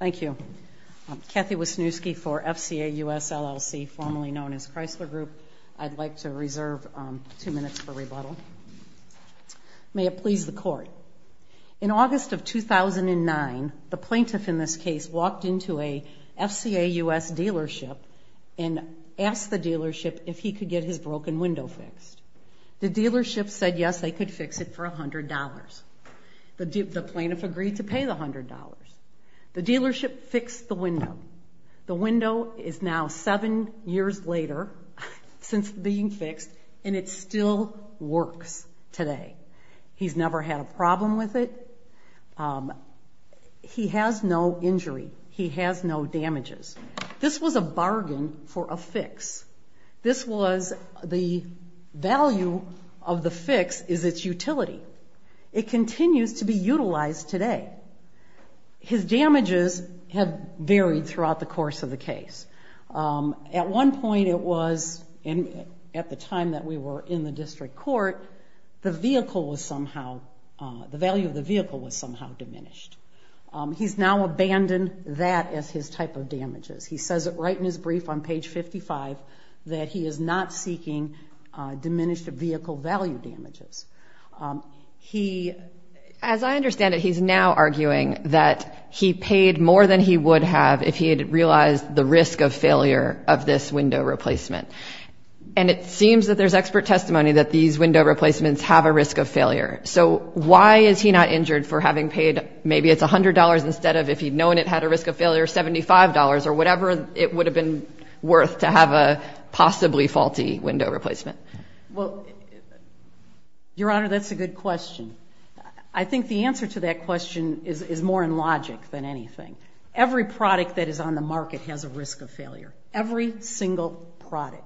Thank you. I'm Kathy Wisniewski for FCA U.S. LLC, formerly known as Chrysler Group. I'd like to reserve two minutes for rebuttal. May it please the Court. In August of 2009, the plaintiff in this case walked into a FCA U.S. dealership and asked the dealership if he could get his broken window fixed. The dealership said yes, they could fix it for $100. The plaintiff agreed to pay the $100. The dealership fixed the window. The window is now seven years later since being fixed, and it still works today. He's never had a problem with it. He has no injury. He has no damages. This was a bargain for a fix. This was the value of the fix is its utility. It continues to be utilized today. His damages have varied throughout the course of the case. At one point it was, at the time that we were in the district court, the vehicle was somehow, the value of the vehicle was somehow diminished. He's now abandoned that as his type of damages. He says right in his brief on page 55 that he is not seeking diminished vehicle value damages. He, as I understand it, he's now arguing that he paid more than he would have if he had realized the risk of failure of this window replacement. And it seems that there's expert testimony that these window replacements have a risk of failure. So why is he not injured for having paid, maybe it's $100 instead of, if he'd known it had a risk of failure, $75 or whatever it would have been worth to have a possibly faulty window replacement? Well, Your Honor, that's a good question. I think the answer to that question is more in logic than anything. Every product that is on the market has a risk of failure, every single product.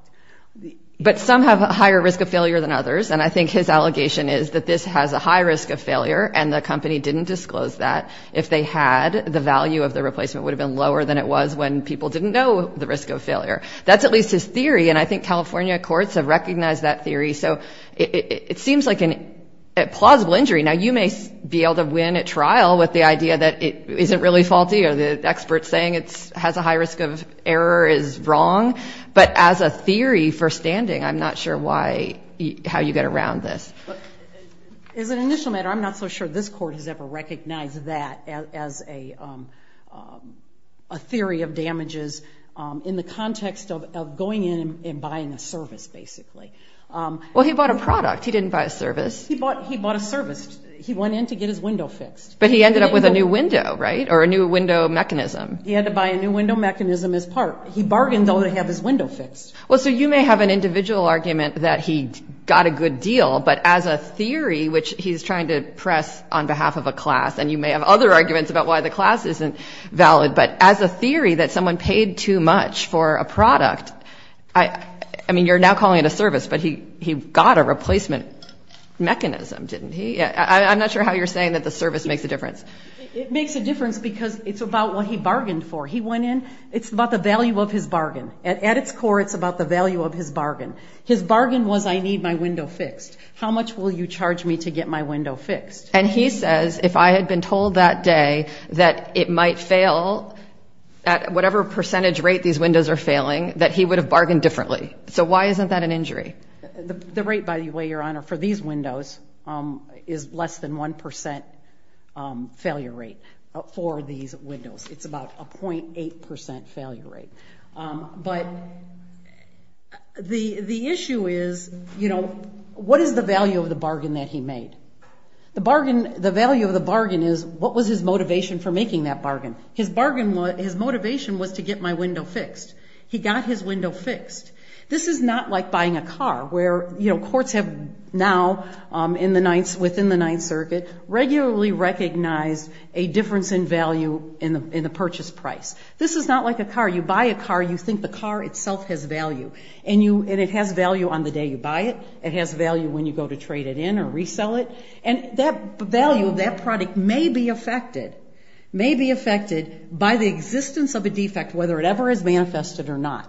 But some have a higher risk of failure than others, and I think his allegation is that this has a high risk of failure, and the company didn't disclose that. If they had, the value of the replacement would have been lower than it was when people didn't know the risk of failure. That's at least his theory, and I think California courts have recognized that theory. So it seems like a plausible injury. Now, you may be able to win at trial with the idea that it isn't really faulty or the experts saying it has a high risk of error is wrong. But as a theory for standing, I'm not sure how you get around this. As an initial matter, I'm not so sure this court has ever recognized that as a theory of damages in the context of going in and buying a service, basically. Well, he bought a product. He didn't buy a service. He bought a service. He went in to get his window fixed. But he ended up with a new window, right, or a new window mechanism. He had to buy a new window mechanism as part. He bargained, though, to have his window fixed. Well, so you may have an individual argument that he got a good deal, but as a theory, which he's trying to press on behalf of a class, and you may have other arguments about why the class isn't valid, but as a theory that someone paid too much for a product, I mean, you're now calling it a service, but he got a replacement mechanism, didn't he? I'm not sure how you're saying that the service makes a difference. It makes a difference because it's about what he bargained for. He went in. It's about the value of his bargain. At its core, it's about the value of his bargain. His bargain was, I need my window fixed. How much will you charge me to get my window fixed? And he says, if I had been told that day that it might fail at whatever percentage rate these windows are failing, that he would have bargained differently. So why isn't that an injury? The rate, by the way, Your Honor, for these windows is less than 1% failure rate for these windows. It's about a 0.8% failure rate. But the issue is, you know, what is the value of the bargain that he made? The value of the bargain is what was his motivation for making that bargain? His motivation was to get my window fixed. He got his window fixed. This is not like buying a car where, you know, courts have now, within the Ninth Circuit, regularly recognized a difference in value in the purchase price. This is not like a car. You buy a car, you think the car itself has value. And it has value on the day you buy it. It has value when you go to trade it in or resell it. And that value of that product may be affected, may be affected by the existence of a defect, whether it ever is manifested or not.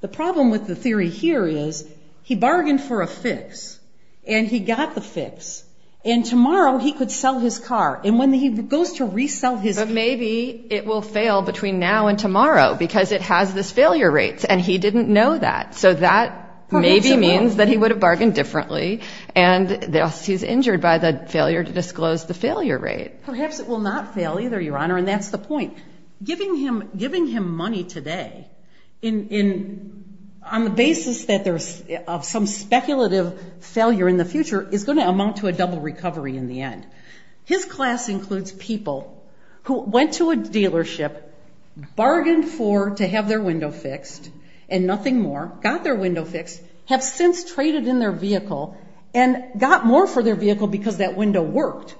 The problem with the theory here is, he bargained for a fix, and he got the fix. And tomorrow he could sell his car. And when he goes to resell his car. Maybe it will fail between now and tomorrow because it has these failure rates, and he didn't know that. So that maybe means that he would have bargained differently, and thus he's injured by the failure to disclose the failure rate. Perhaps it will not fail either, Your Honor, and that's the point. Giving him money today on the basis that there's some speculative failure in the future is going to amount to a double recovery in the end. His class includes people who went to a dealership, bargained for to have their window fixed and nothing more, got their window fixed, have since traded in their vehicle and got more for their vehicle because that window worked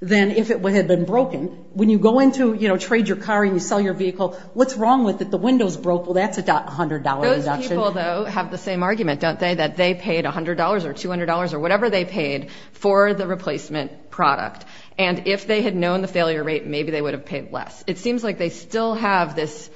than if it had been broken. When you go in to trade your car and you sell your vehicle, what's wrong with it? The window's broke. Well, that's a $100 induction. Those people, though, have the same argument, don't they, that they paid $100 or $200 or whatever they paid for the replacement product. And if they had known the failure rate, maybe they would have paid less. It seems like they still have this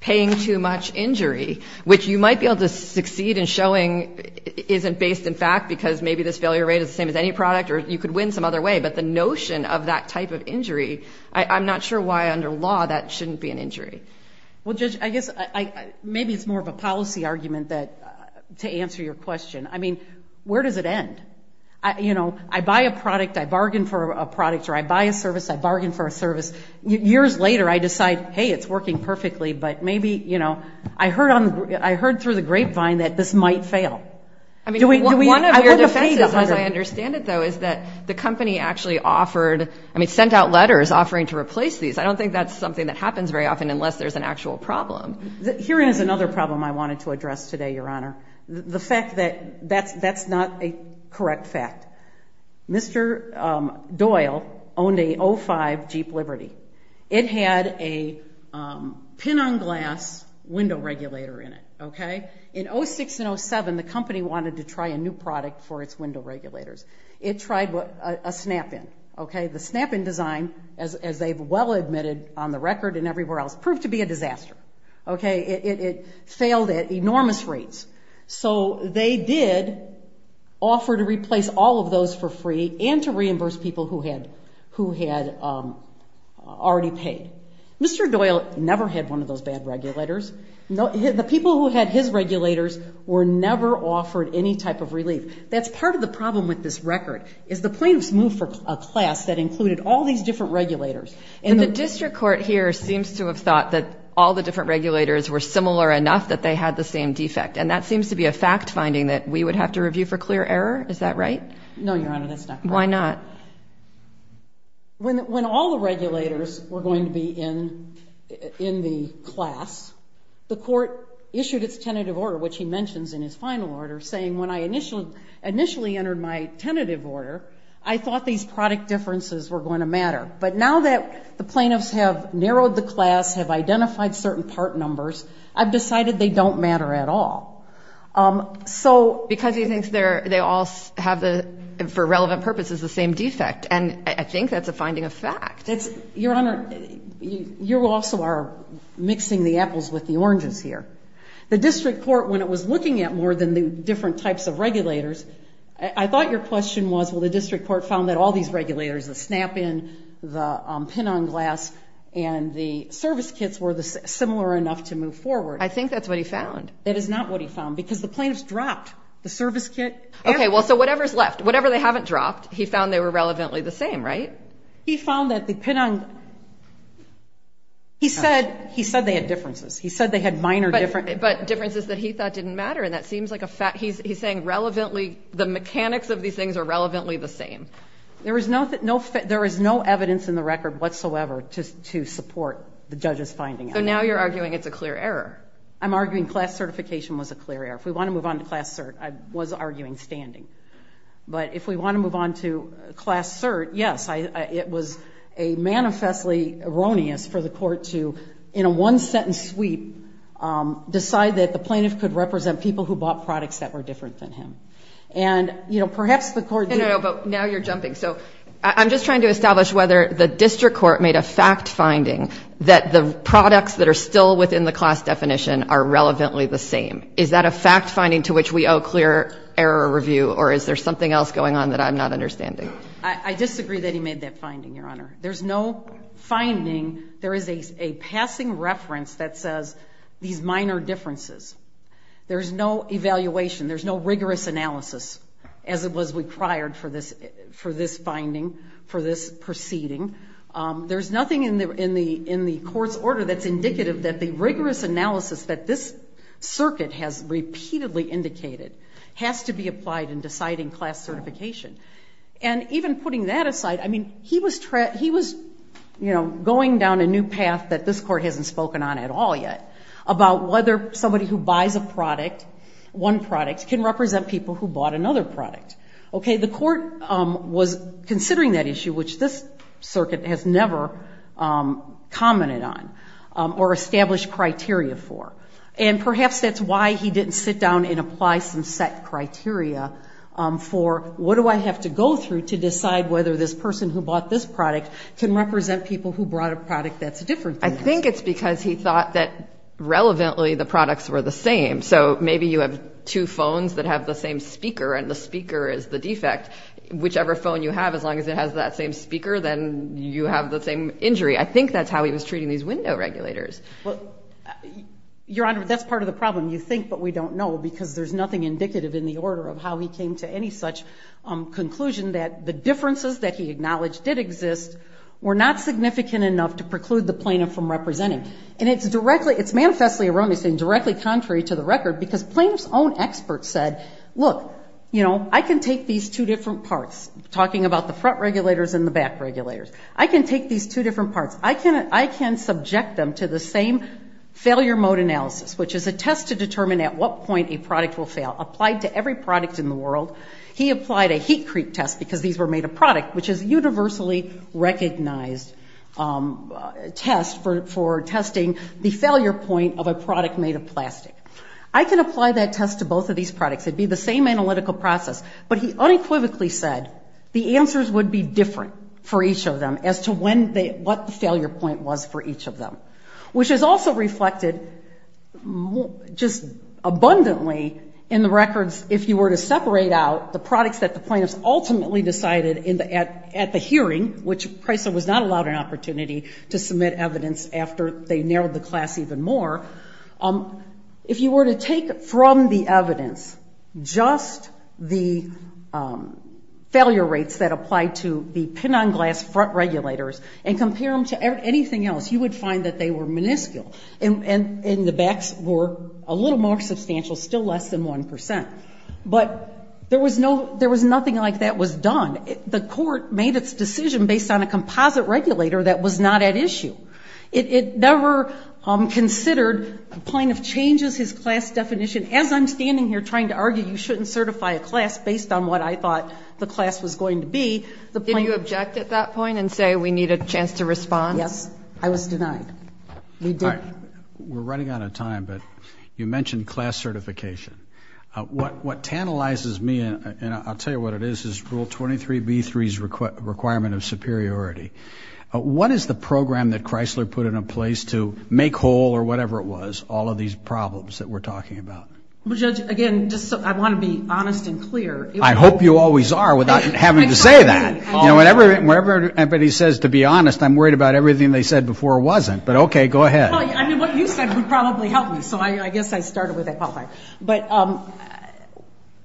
paying too much injury, which you might be able to succeed in showing isn't based in fact because maybe this failure rate is the same as any product or you could win some other way. But the notion of that type of injury, I'm not sure why under law that shouldn't be an injury. Well, Judge, I guess maybe it's more of a policy argument to answer your question. I mean, where does it end? You know, I buy a product, I bargain for a product, or I buy a service, I bargain for a service. Years later I decide, hey, it's working perfectly, but maybe, you know, I heard through the grapevine that this might fail. One of your defenses, as I understand it, though, is that the company actually offered, I mean, sent out letters offering to replace these. I don't think that's something that happens very often unless there's an actual problem. Here is another problem I wanted to address today, Your Honor. The fact that that's not a correct fact. Mr. Doyle owned a 05 Jeep Liberty. It had a pin-on-glass window regulator in it, okay? In 06 and 07, the company wanted to try a new product for its window regulators. It tried a snap-in, okay? The snap-in design, as they've well admitted on the record and everywhere else, proved to be a disaster, okay? It failed at enormous rates. So they did offer to replace all of those for free and to reimburse people who had already paid. Mr. Doyle never had one of those bad regulators. The people who had his regulators were never offered any type of relief. That's part of the problem with this record, is the plaintiffs moved for a class that included all these different regulators. And the district court here seems to have thought that all the different regulators were similar enough that they had the same defect. And that seems to be a fact-finding that we would have to review for clear error. Is that right? No, Your Honor, that's not correct. Why not? When all the regulators were going to be in the class, the court issued its tentative order, which he mentions in his final order, saying when I initially entered my tentative order, I thought these product differences were going to matter. But now that the plaintiffs have narrowed the class, have identified certain part numbers, I've decided they don't matter at all. So because he thinks they all have, for relevant purposes, the same defect. And I think that's a finding of fact. Your Honor, you also are mixing the apples with the oranges here. The district court, when it was looking at more than the different types of regulators, I thought your question was, well, the district court found that all these regulators, the snap-in, the pin-on glass, and the service kits were similar enough to move forward. I think that's what he found. That is not what he found, because the plaintiffs dropped the service kit. Okay, well, so whatever's left, whatever they haven't dropped, he found they were relevantly the same, right? He found that the pin-on, he said they had differences. He said they had minor differences. But differences that he thought didn't matter, and that seems like a fact. He's saying the mechanics of these things are relevantly the same. There is no evidence in the record whatsoever to support the judge's finding. So now you're arguing it's a clear error. I'm arguing class certification was a clear error. If we want to move on to class cert, I was arguing standing. But if we want to move on to class cert, yes, it was a manifestly erroneous for the court to, in a one-sentence sweep, decide that the plaintiff could represent people who bought products that were different than him. And, you know, perhaps the court did. No, no, no, but now you're jumping. So I'm just trying to establish whether the district court made a fact finding that the products that are still within the class definition are relevantly the same. Is that a fact finding to which we owe clear error review, or is there something else going on that I'm not understanding? I disagree that he made that finding, Your Honor. There's no finding. There is a passing reference that says these minor differences. There's no evaluation. There's no rigorous analysis as it was required for this finding, for this proceeding. There's nothing in the court's order that's indicative that the rigorous analysis that this circuit has repeatedly indicated has to be applied in deciding class certification. And even putting that aside, I mean, he was going down a new path that this court hasn't spoken on at all yet about whether somebody who buys a product, one product, can represent people who bought another product. Okay, the court was considering that issue, which this circuit has never commented on or established criteria for. And perhaps that's why he didn't sit down and apply some set criteria for what do I have to go through to decide whether this person who bought this product can represent people who brought a product that's different than that. I think it's because he thought that, relevantly, the products were the same. So maybe you have two phones that have the same speaker, and the speaker is the defect. Whichever phone you have, as long as it has that same speaker, then you have the same injury. I think that's how he was treating these window regulators. Your Honor, that's part of the problem. You think, but we don't know, because there's nothing indicative in the order of how he came to any such conclusion that the differences that he acknowledged did exist were not significant enough to preclude the plaintiff from representing. And it's directly, it's manifestly erroneous and directly contrary to the record, because plaintiff's own experts said, look, you know, I can take these two different parts, talking about the front regulators and the back regulators. I can take these two different parts. I can subject them to the same failure mode analysis, which is a test to determine at what point a product will fail. Applied to every product in the world. He applied a heat creep test, because these were made of product, which is a universally recognized test for testing the failure point of a product made of plastic. I can apply that test to both of these products. It would be the same analytical process. But he unequivocally said the answers would be different for each of them as to what the failure point was for each of them. Which is also reflected just abundantly in the records if you were to separate out the products that the plaintiffs ultimately decided at the hearing, which Pricer was not allowed an opportunity to submit evidence after they narrowed the class even more. If you were to take from the evidence just the failure rates that applied to the pin-on-glass front regulators and compare them to anything else, you would find that they were minuscule. And the backs were a little more substantial, still less than 1%. But there was nothing like that was done. The court made its decision based on a composite regulator that was not at issue. It never considered the plaintiff changes his class definition. As I'm standing here trying to argue you shouldn't certify a class based on what I thought the class was going to be. Did you object at that point and say we need a chance to respond? Yes. I was denied. We're running out of time, but you mentioned class certification. What tantalizes me, and I'll tell you what it is, is Rule 23B3's requirement of superiority. What is the program that Chrysler put in place to make whole or whatever it was all of these problems that we're talking about? Well, Judge, again, I want to be honest and clear. I hope you always are without having to say that. Whenever anybody says to be honest, I'm worried about everything they said before wasn't. But, okay, go ahead. I mean, what you said would probably help me, so I guess I started with that qualifying. But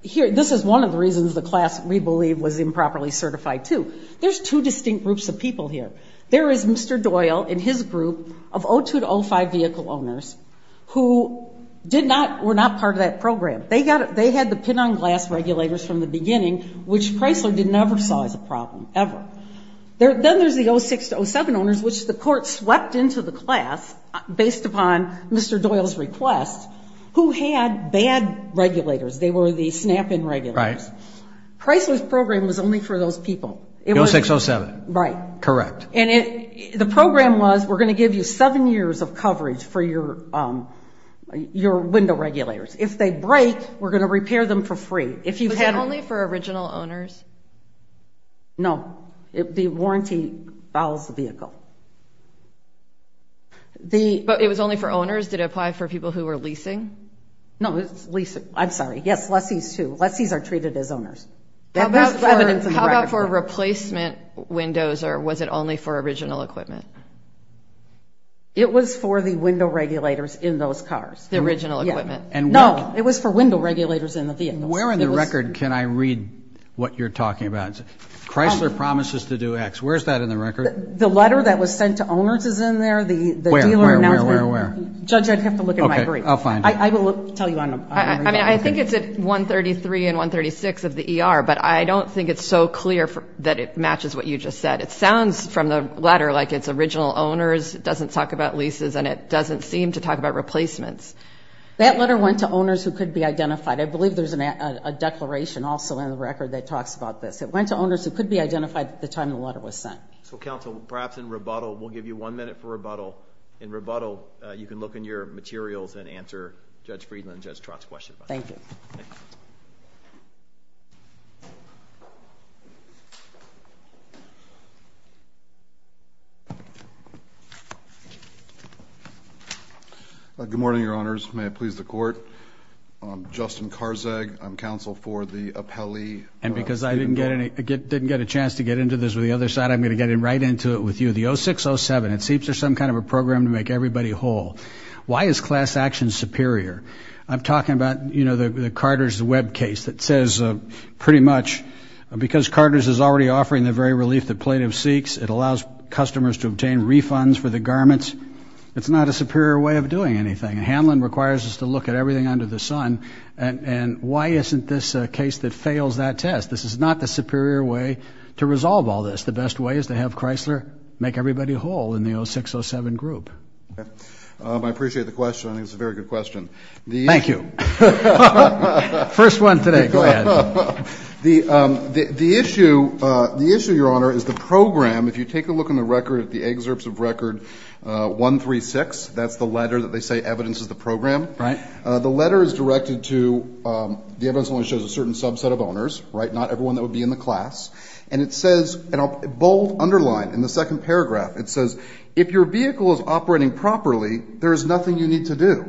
this is one of the reasons the class we believe was improperly certified, too. There's two distinct groups of people here. There is Mr. Doyle and his group of 02-05 vehicle owners who were not part of that program. They had the pin-on-glass regulators from the beginning, which Chrysler never saw as a problem, ever. Then there's the 06-07 owners, which the court swept into the class based upon Mr. Doyle's request, who had bad regulators. They were the snap-in regulators. Chrysler's program was only for those people. 06-07. Right. Correct. And the program was we're going to give you seven years of coverage for your window regulators. If they break, we're going to repair them for free. Was it only for original owners? No. The warranty fouls the vehicle. But it was only for owners? Did it apply for people who were leasing? No, it was leasing. I'm sorry. Yes, lessees, too. Lessees are treated as owners. How about for replacement windows, or was it only for original equipment? It was for the window regulators in those cars, the original equipment. No, it was for window regulators in the vehicles. Where in the record can I read what you're talking about? Chrysler promises to do X. Where is that in the record? The letter that was sent to owners is in there. The dealer announced that. Where, where, where, where? Judge, I'd have to look at my brief. Okay, I'll find it. I will tell you. I mean, I think it's at 133 and 136 of the ER, but I don't think it's so clear that it matches what you just said. It sounds from the letter like it's original owners. It doesn't talk about leases, and it doesn't seem to talk about replacements. That letter went to owners who could be identified. I believe there's a declaration also in the record that talks about this. It went to owners who could be identified at the time the letter was sent. So, counsel, perhaps in rebuttal, we'll give you one minute for rebuttal. In rebuttal, you can look in your materials and answer Judge Friedland and Judge Trott's question. Thank you. Good morning, Your Honors. May it please the Court. I'm Justin Karzag. I'm counsel for the appellee. And because I didn't get a chance to get into this with the other side, I'm going to get right into it with you. The 0607, it seems there's some kind of a program to make everybody whole. Why is class action superior? I'm talking about, you know, the Carter's web case that says pretty much because Carter's is already offering the very relief the plaintiff seeks, it allows customers to obtain refunds for the garments. It's not a superior way of doing anything. Hamlin requires us to look at everything under the sun. And why isn't this a case that fails that test? This is not the superior way to resolve all this. Perhaps the best way is to have Chrysler make everybody whole in the 0607 group. I appreciate the question. I think it's a very good question. Thank you. First one today. Go ahead. The issue, Your Honor, is the program. If you take a look on the record at the excerpts of Record 136, that's the letter that they say evidences the program. Right. The letter is directed to the evidence only shows a certain subset of owners, right, not everyone that would be in the class. And it says, and I'll bold underline in the second paragraph, it says, if your vehicle is operating properly, there is nothing you need to do.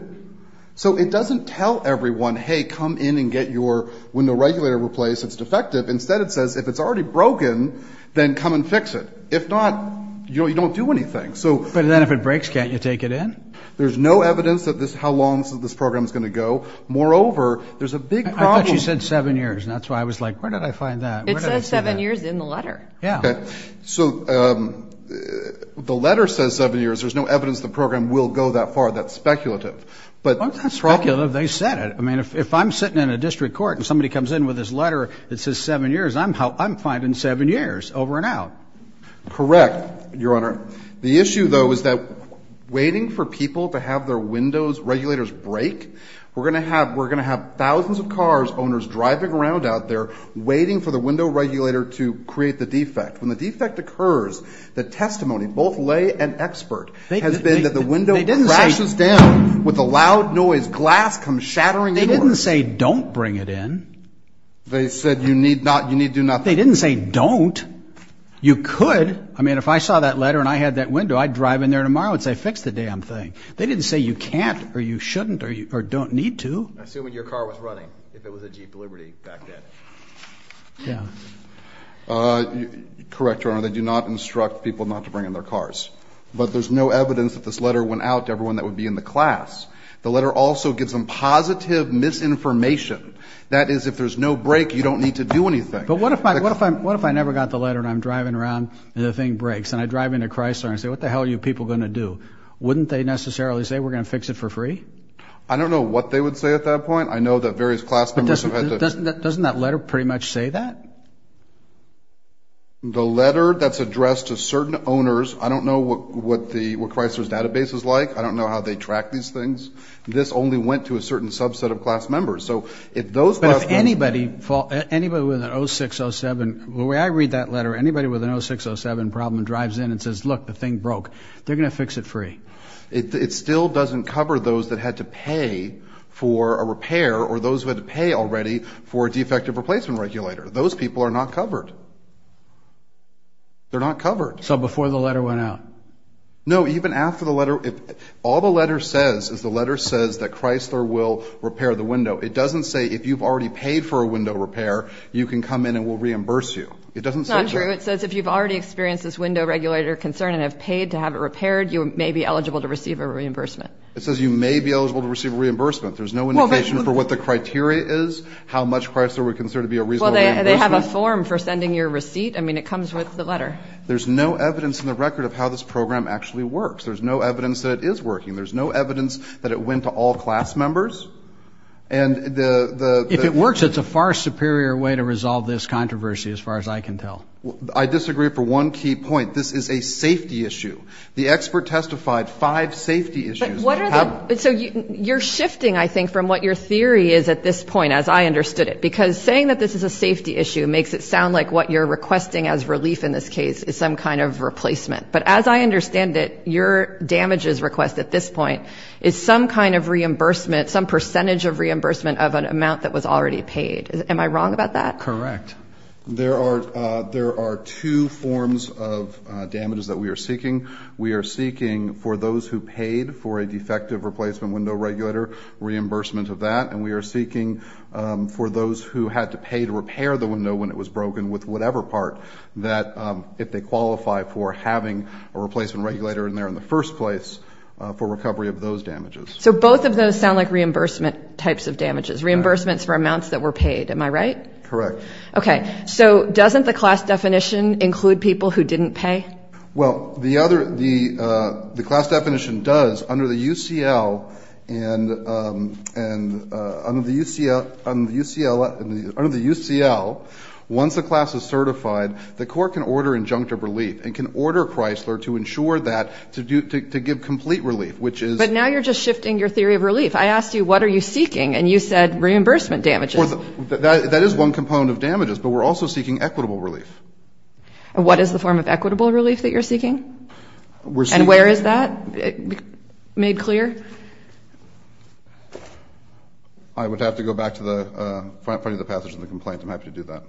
So it doesn't tell everyone, hey, come in and get your window regulator replaced. It's defective. Instead, it says if it's already broken, then come and fix it. If not, you don't do anything. But then if it breaks, can't you take it in? There's no evidence of how long this program is going to go. Moreover, there's a big problem. I thought you said seven years. That's why I was like, where did I find that? It says seven years in the letter. Yeah. Okay. So the letter says seven years. There's no evidence the program will go that far. That's speculative. That's not speculative. They said it. I mean, if I'm sitting in a district court and somebody comes in with this letter that says seven years, I'm fine in seven years, over and out. Correct, Your Honor. The issue, though, is that waiting for people to have their windows regulators break, we're going to have thousands of cars, owners driving around out there, waiting for the window regulator to create the defect. When the defect occurs, the testimony, both lay and expert, has been that the window crashes down with a loud noise. Glass comes shattering. They didn't say don't bring it in. They said you need to do nothing. They didn't say don't. You could. I mean, if I saw that letter and I had that window, I'd drive in there tomorrow and say fix the damn thing. They didn't say you can't or you shouldn't or don't need to. Assuming your car was running, if it was a Jeep Liberty back then. Yeah. Correct, Your Honor. They do not instruct people not to bring in their cars. But there's no evidence that this letter went out to everyone that would be in the class. The letter also gives them positive misinformation. That is, if there's no break, you don't need to do anything. But what if I never got the letter and I'm driving around and the thing breaks and I drive into Chrysler and say what the hell are you people going to do? Wouldn't they necessarily say we're going to fix it for free? I don't know what they would say at that point. I know that various class members have had to. Doesn't that letter pretty much say that? The letter that's addressed to certain owners, I don't know what Chrysler's database is like. I don't know how they track these things. This only went to a certain subset of class members. But if anybody with an 0607, the way I read that letter, anybody with an 0607 problem drives in and says, look, the thing broke. They're going to fix it free. It still doesn't cover those that had to pay for a repair or those who had to pay already for a defective replacement regulator. Those people are not covered. They're not covered. So before the letter went out? No, even after the letter. All the letter says is the letter says that Chrysler will repair the window. It doesn't say if you've already paid for a window repair, you can come in and we'll reimburse you. It doesn't say that. It's not true. It says if you've already experienced this window regulator concern and have paid to have it repaired, you may be eligible to receive a reimbursement. It says you may be eligible to receive a reimbursement. There's no indication for what the criteria is, how much Chrysler would consider to be a reasonable reimbursement. Well, they have a form for sending your receipt. I mean, it comes with the letter. There's no evidence in the record of how this program actually works. There's no evidence that it is working. There's no evidence that it went to all class members. If it works, it's a far superior way to resolve this controversy as far as I can tell. I disagree for one key point. This is a safety issue. The expert testified five safety issues. So you're shifting, I think, from what your theory is at this point, as I understood it, because saying that this is a safety issue makes it sound like what you're requesting as relief in this case is some kind of replacement. But as I understand it, your damages request at this point is some kind of reimbursement, some percentage of reimbursement of an amount that was already paid. Am I wrong about that? Correct. There are two forms of damages that we are seeking. We are seeking for those who paid for a defective replacement window regulator, reimbursement of that. And we are seeking for those who had to pay to repair the window when it was broken with whatever part that, if they qualify for having a replacement regulator in there in the first place, for recovery of those damages. So both of those sound like reimbursement types of damages, reimbursements for amounts that were paid. Am I right? Correct. Okay. So doesn't the class definition include people who didn't pay? Well, the class definition does under the UCL. And under the UCL, once the class is certified, the court can order injunctive relief and can order Chrysler to ensure that, to give complete relief, which is. But now you're just shifting your theory of relief. I asked you what are you seeking, and you said reimbursement damages. That is one component of damages, but we're also seeking equitable relief. And what is the form of equitable relief that you're seeking? And where is that made clear? I would have to go back to the front of the passage of the complaint. I'm happy to do that.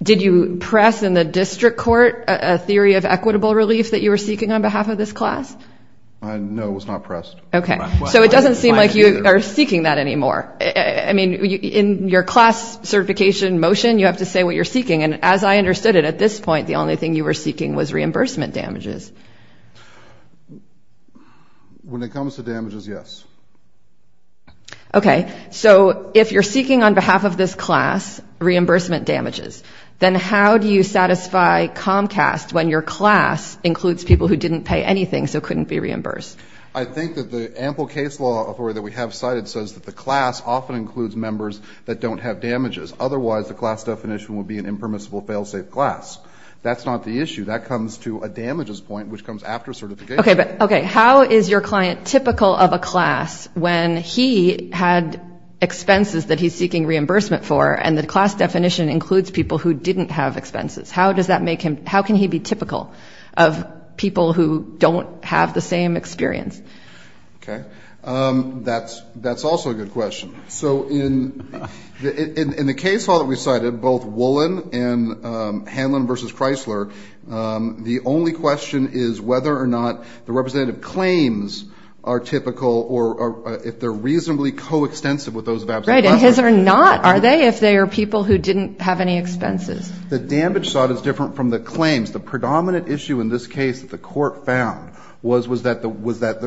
Did you press in the district court a theory of equitable relief that you were seeking on behalf of this class? No, it was not pressed. Okay. So it doesn't seem like you are seeking that anymore. I mean, in your class certification motion, you have to say what you're seeking. And as I understood it, at this point, the only thing you were seeking was reimbursement damages. When it comes to damages, yes. Okay. So if you're seeking on behalf of this class reimbursement damages, then how do you satisfy Comcast when your class includes people who didn't pay anything so couldn't be reimbursed? I think that the ample case law that we have cited says that the class often includes members that don't have damages. Otherwise, the class definition would be an impermissible fail-safe class. That's not the issue. That comes to a damages point, which comes after certification. Okay. How is your client typical of a class when he had expenses that he's seeking reimbursement for, and the class definition includes people who didn't have expenses? How can he be typical of people who don't have the same experience? Okay. That's also a good question. So in the case law that we cited, both Wollen and Hanlon v. Chrysler, the only question is whether or not the representative claims are typical or if they're reasonably coextensive with those of absent cluster. Right. And his are not, are they, if they are people who didn't have any expenses? The damage side is different from the claims. The predominant issue in this case that the court found was that there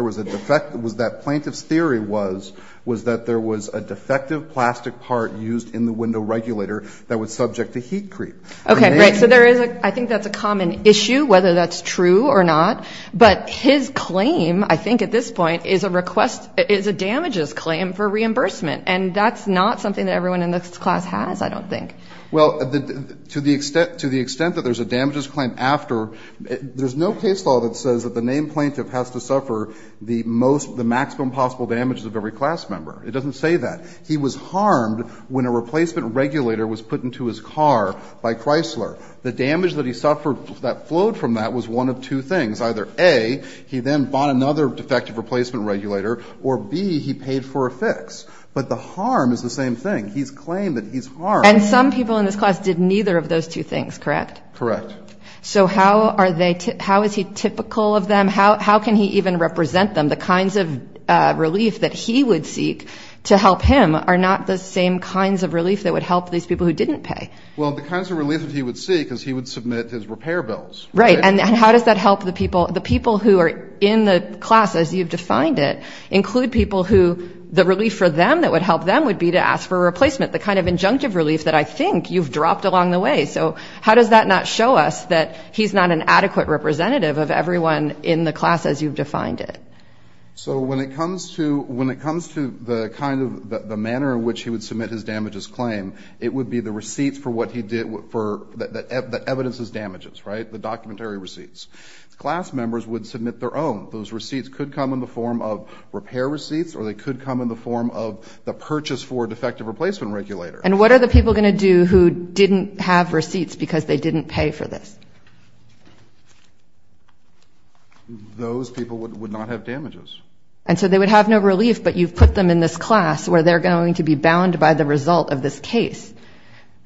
was a defective, was that plaintiff's theory was, was that there was a defective plastic part used in the window regulator that was subject to heat creep. Okay, great. So there is a, I think that's a common issue, whether that's true or not. But his claim, I think at this point, is a request, is a damages claim for reimbursement. And that's not something that everyone in this class has, I don't think. Well, to the extent, to the extent that there's a damages claim after, there's no case law that says that the named plaintiff has to suffer the most, the maximum possible damages of every class member. It doesn't say that. He was harmed when a replacement regulator was put into his car by Chrysler. The damage that he suffered that flowed from that was one of two things. Either A, he then bought another defective replacement regulator, or B, he paid for a fix. He's claimed that he's harmed. And some people in this class did neither of those two things, correct? Correct. So how are they, how is he typical of them? How can he even represent them? The kinds of relief that he would seek to help him are not the same kinds of relief that would help these people who didn't pay. Well, the kinds of relief that he would seek is he would submit his repair bills. Right. And how does that help the people? The people who are in the class, as you've defined it, include people who the relief for them that would help them would be to ask for a replacement. The kind of injunctive relief that I think you've dropped along the way. So how does that not show us that he's not an adequate representative of everyone in the class as you've defined it? So when it comes to the kind of, the manner in which he would submit his damages claim, it would be the receipts for what he did, the evidence of his damages, right? The documentary receipts. Class members would submit their own. Those receipts could come in the form of repair receipts, or they could come in the form of the purchase for a defective replacement regulator. And what are the people going to do who didn't have receipts because they didn't pay for this? Those people would not have damages. And so they would have no relief, but you've put them in this class where they're going to be bound by the result of this case.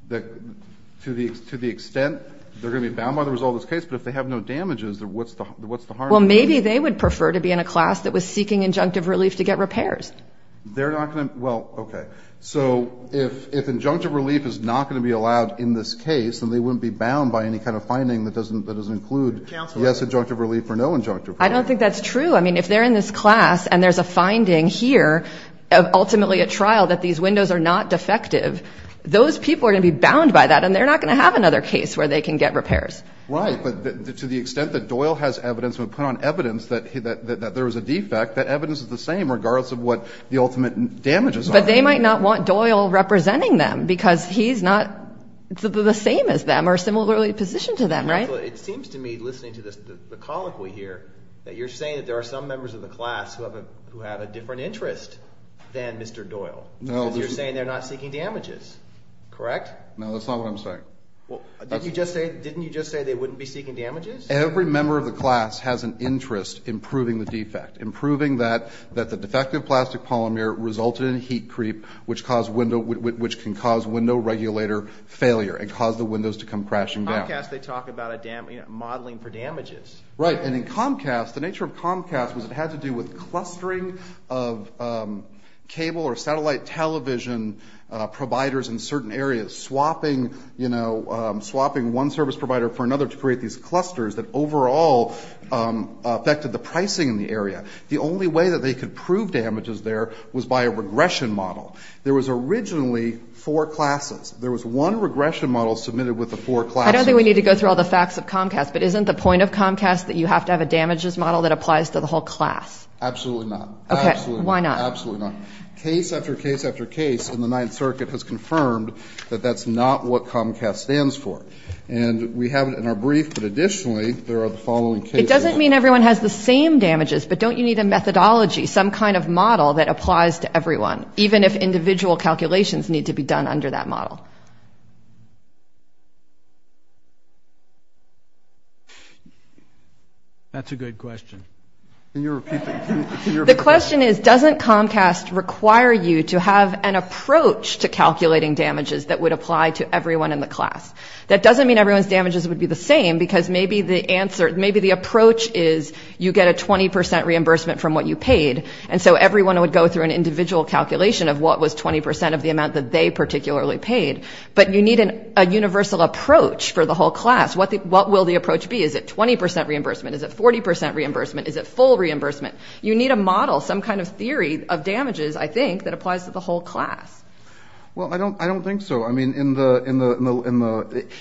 To the extent they're going to be bound by the result of this case, but if they have no damages, what's the harm? Well, maybe they would prefer to be in a class that was seeking injunctive relief to get repairs. They're not going to, well, okay. So if injunctive relief is not going to be allowed in this case, then they wouldn't be bound by any kind of finding that doesn't include, yes, injunctive relief or no injunctive relief. I don't think that's true. I mean, if they're in this class and there's a finding here, ultimately a trial that these windows are not defective, those people are going to be bound by that, and they're not going to have another case where they can get repairs. Right, but to the extent that Doyle has evidence and put on evidence that there was a defect, that evidence is the same regardless of what the ultimate damages are. But they might not want Doyle representing them because he's not the same as them or similarly positioned to them, right? It seems to me, listening to the colloquy here, that you're saying that there are some members of the class who have a different interest than Mr. Doyle. No. Because you're saying they're not seeking damages. Correct? No, that's not what I'm saying. Well, didn't you just say they wouldn't be seeking damages? Every member of the class has an interest in proving the defect, in proving that the defective plastic polymer resulted in heat creep, which can cause window regulator failure and cause the windows to come crashing down. In Comcast, they talk about modeling for damages. Right, and in Comcast, the nature of Comcast was it had to do with clustering of cable or satellite television providers in certain areas, swapping one service provider for another to create these clusters that overall affected the pricing in the area. The only way that they could prove damages there was by a regression model. There was originally four classes. There was one regression model submitted with the four classes. I don't think we need to go through all the facts of Comcast, but isn't the point of Comcast that you have to have a damages model that applies to the whole class? Absolutely not. Okay, why not? Absolutely not. Case after case after case in the Ninth Circuit has confirmed that that's not what Comcast stands for. And we have it in our brief, but additionally, there are the following cases. It doesn't mean everyone has the same damages, but don't you need a methodology, some kind of model that applies to everyone, even if individual calculations need to be done under that model? That's a good question. The question is, doesn't Comcast require you to have an approach to calculating damages that would apply to everyone in the class? That doesn't mean everyone's damages would be the same, because maybe the approach is you get a 20 percent reimbursement from what you paid, and so everyone would go through an individual calculation of what was 20 percent of the amount that they particularly paid. But you need a universal approach for the whole class. What will the approach be? Is it 20 percent reimbursement? Is it 40 percent reimbursement? Is it full reimbursement? You need a model, some kind of theory of damages, I think, that applies to the whole class. Well, I don't think so. I mean,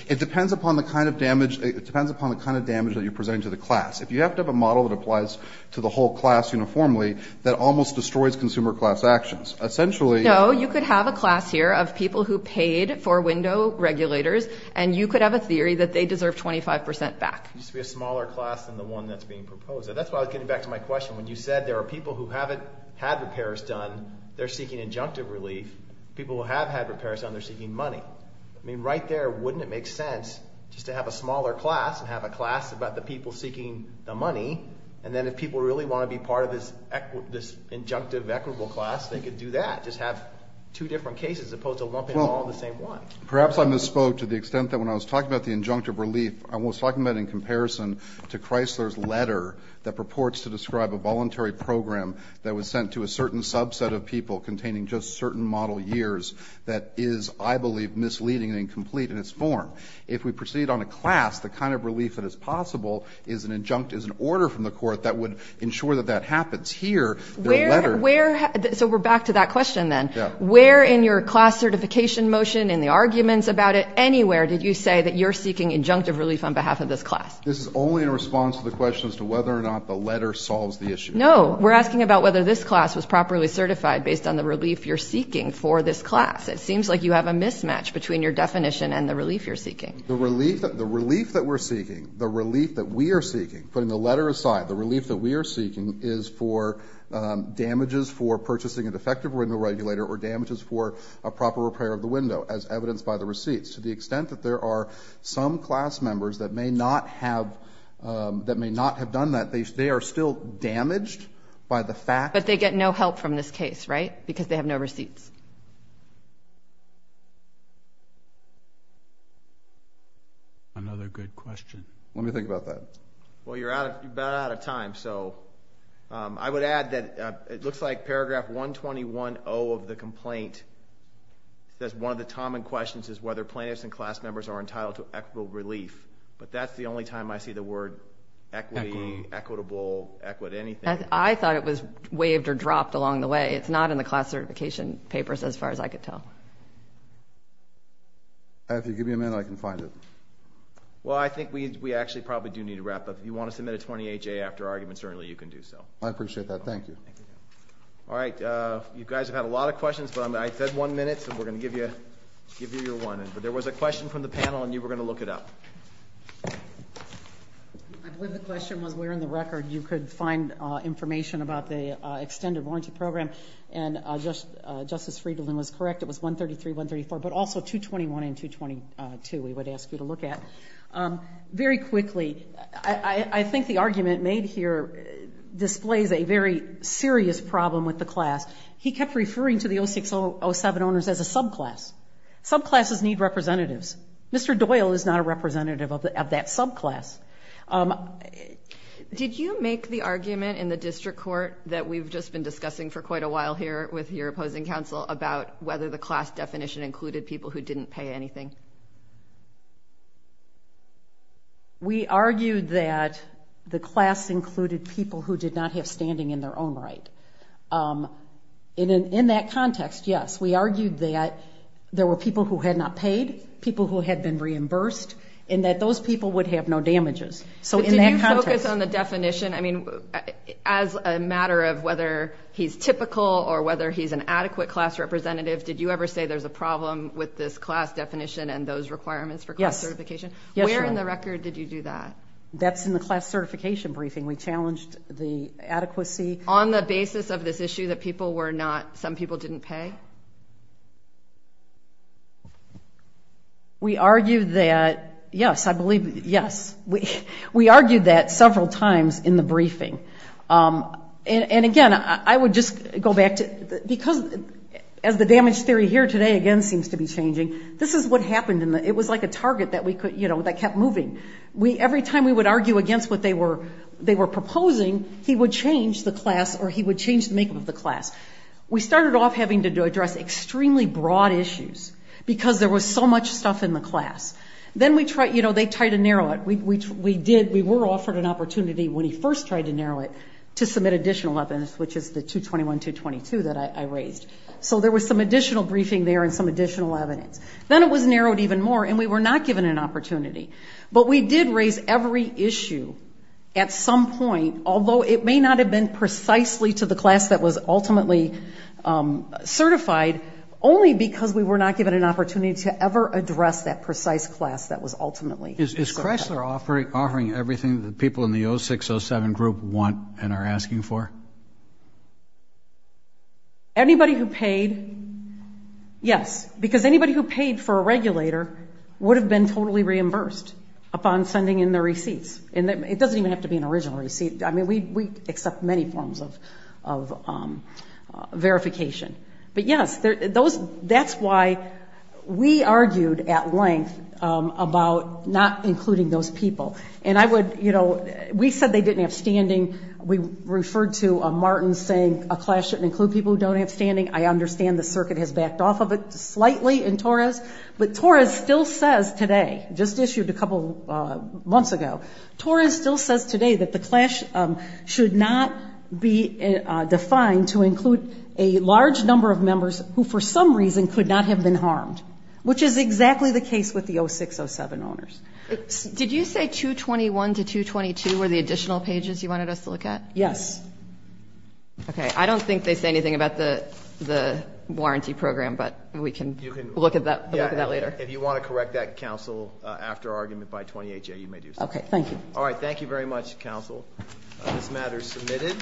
it depends upon the kind of damage that you're presenting to the class. If you have to have a model that applies to the whole class uniformly, that almost destroys consumer class actions. No, you could have a class here of people who paid for window regulators, and you could have a theory that they deserve 25 percent back. It needs to be a smaller class than the one that's being proposed. That's why I was getting back to my question. When you said there are people who haven't had repairs done, they're seeking injunctive relief. People who have had repairs done, they're seeking money. I mean, right there, wouldn't it make sense just to have a smaller class and have a class about the people seeking the money, and then if people really want to be part of this injunctive equitable class, they could do that, just have two different cases as opposed to lumping them all in the same one. Perhaps I misspoke to the extent that when I was talking about the injunctive relief, I was talking about it in comparison to Chrysler's letter that purports to describe a voluntary program that was sent to a certain subset of people containing just certain model years that is, I believe, misleading and incomplete in its form. If we proceed on a class, the kind of relief that is possible is an order from the court that would ensure that that happens. Here, the letter— So we're back to that question then. Yeah. Where in your class certification motion, in the arguments about it, did you say that you're seeking injunctive relief on behalf of this class? This is only in response to the question as to whether or not the letter solves the issue. No. We're asking about whether this class was properly certified based on the relief you're seeking for this class. It seems like you have a mismatch between your definition and the relief you're seeking. The relief that we're seeking, the relief that we are seeking, putting the letter aside, the relief that we are seeking is for damages for purchasing a defective window regulator or damages for a proper repair of the window, as evidenced by the receipts. To the extent that there are some class members that may not have done that, they are still damaged by the fact— But they get no help from this case, right? Because they have no receipts. Another good question. Let me think about that. Well, you're about out of time. I would add that it looks like paragraph 121.0 of the complaint says one of the common questions is whether plaintiffs and class members are entitled to equitable relief. But that's the only time I see the word equity, equitable, anything. I thought it was waved or dropped along the way. It's not in the class certification papers as far as I could tell. If you give me a minute, I can find it. Well, I think we actually probably do need to wrap up. If you want to submit a 28-J after argument, certainly you can do so. I appreciate that. Thank you. All right. You guys have had a lot of questions, but I said one minute, so we're going to give you your one. But there was a question from the panel, and you were going to look it up. I believe the question was where in the record you could find information about the extended warranty program, and Justice Friedland was correct. It was 133, 134, but also 221 and 222 we would ask you to look at. Very quickly, I think the argument made here displays a very serious problem with the class. He kept referring to the 0607 owners as a subclass. Subclasses need representatives. Mr. Doyle is not a representative of that subclass. Did you make the argument in the district court that we've just been discussing for quite a while here with your opposing counsel about whether the class We argued that the class included people who did not have standing in their own right. In that context, yes, we argued that there were people who had not paid, people who had been reimbursed, and that those people would have no damages. So in that context. Did you focus on the definition? I mean, as a matter of whether he's typical or whether he's an adequate class representative, did you ever say there's a problem with this class definition and those requirements for class certification? Where in the record did you do that? That's in the class certification briefing. We challenged the adequacy. On the basis of this issue that people were not, some people didn't pay? We argued that, yes, I believe, yes. We argued that several times in the briefing. And again, I would just go back to, because as the damage theory here today, again, seems to be changing, this is what happened. It was like a target that kept moving. Every time we would argue against what they were proposing, he would change the class or he would change the makeup of the class. We started off having to address extremely broad issues because there was so much stuff in the class. Then they tried to narrow it. We were offered an opportunity when he first tried to narrow it to submit additional evidence, which is the 221-222 that I raised. So there was some additional briefing there and some additional evidence. Then it was narrowed even more, and we were not given an opportunity. But we did raise every issue at some point, although it may not have been precisely to the class that was ultimately certified, only because we were not given an opportunity to ever address that precise class that was ultimately certified. Is Chrysler offering everything that people in the 0607 group want and are asking for? Anybody who paid, yes, because anybody who paid for a regulator would have been totally reimbursed upon sending in their receipts. It doesn't even have to be an original receipt. I mean, we accept many forms of verification. But, yes, that's why we argued at length about not including those people. We said they didn't have standing. We referred to Martin saying a class shouldn't include people who don't have standing. I understand the circuit has backed off of it slightly in Torres. But Torres still says today, just issued a couple months ago, Torres still says today that the class should not be defined to include a large number of members who for some reason could not have been harmed, which is exactly the case with the 0607 owners. Did you say 221 to 222 were the additional pages you wanted us to look at? Yes. Okay. I don't think they say anything about the warranty program, but we can look at that later. If you want to correct that, counsel, after our argument by 28-J, you may do so. Okay. Thank you. All right. Thank you very much, counsel. This matter is submitted.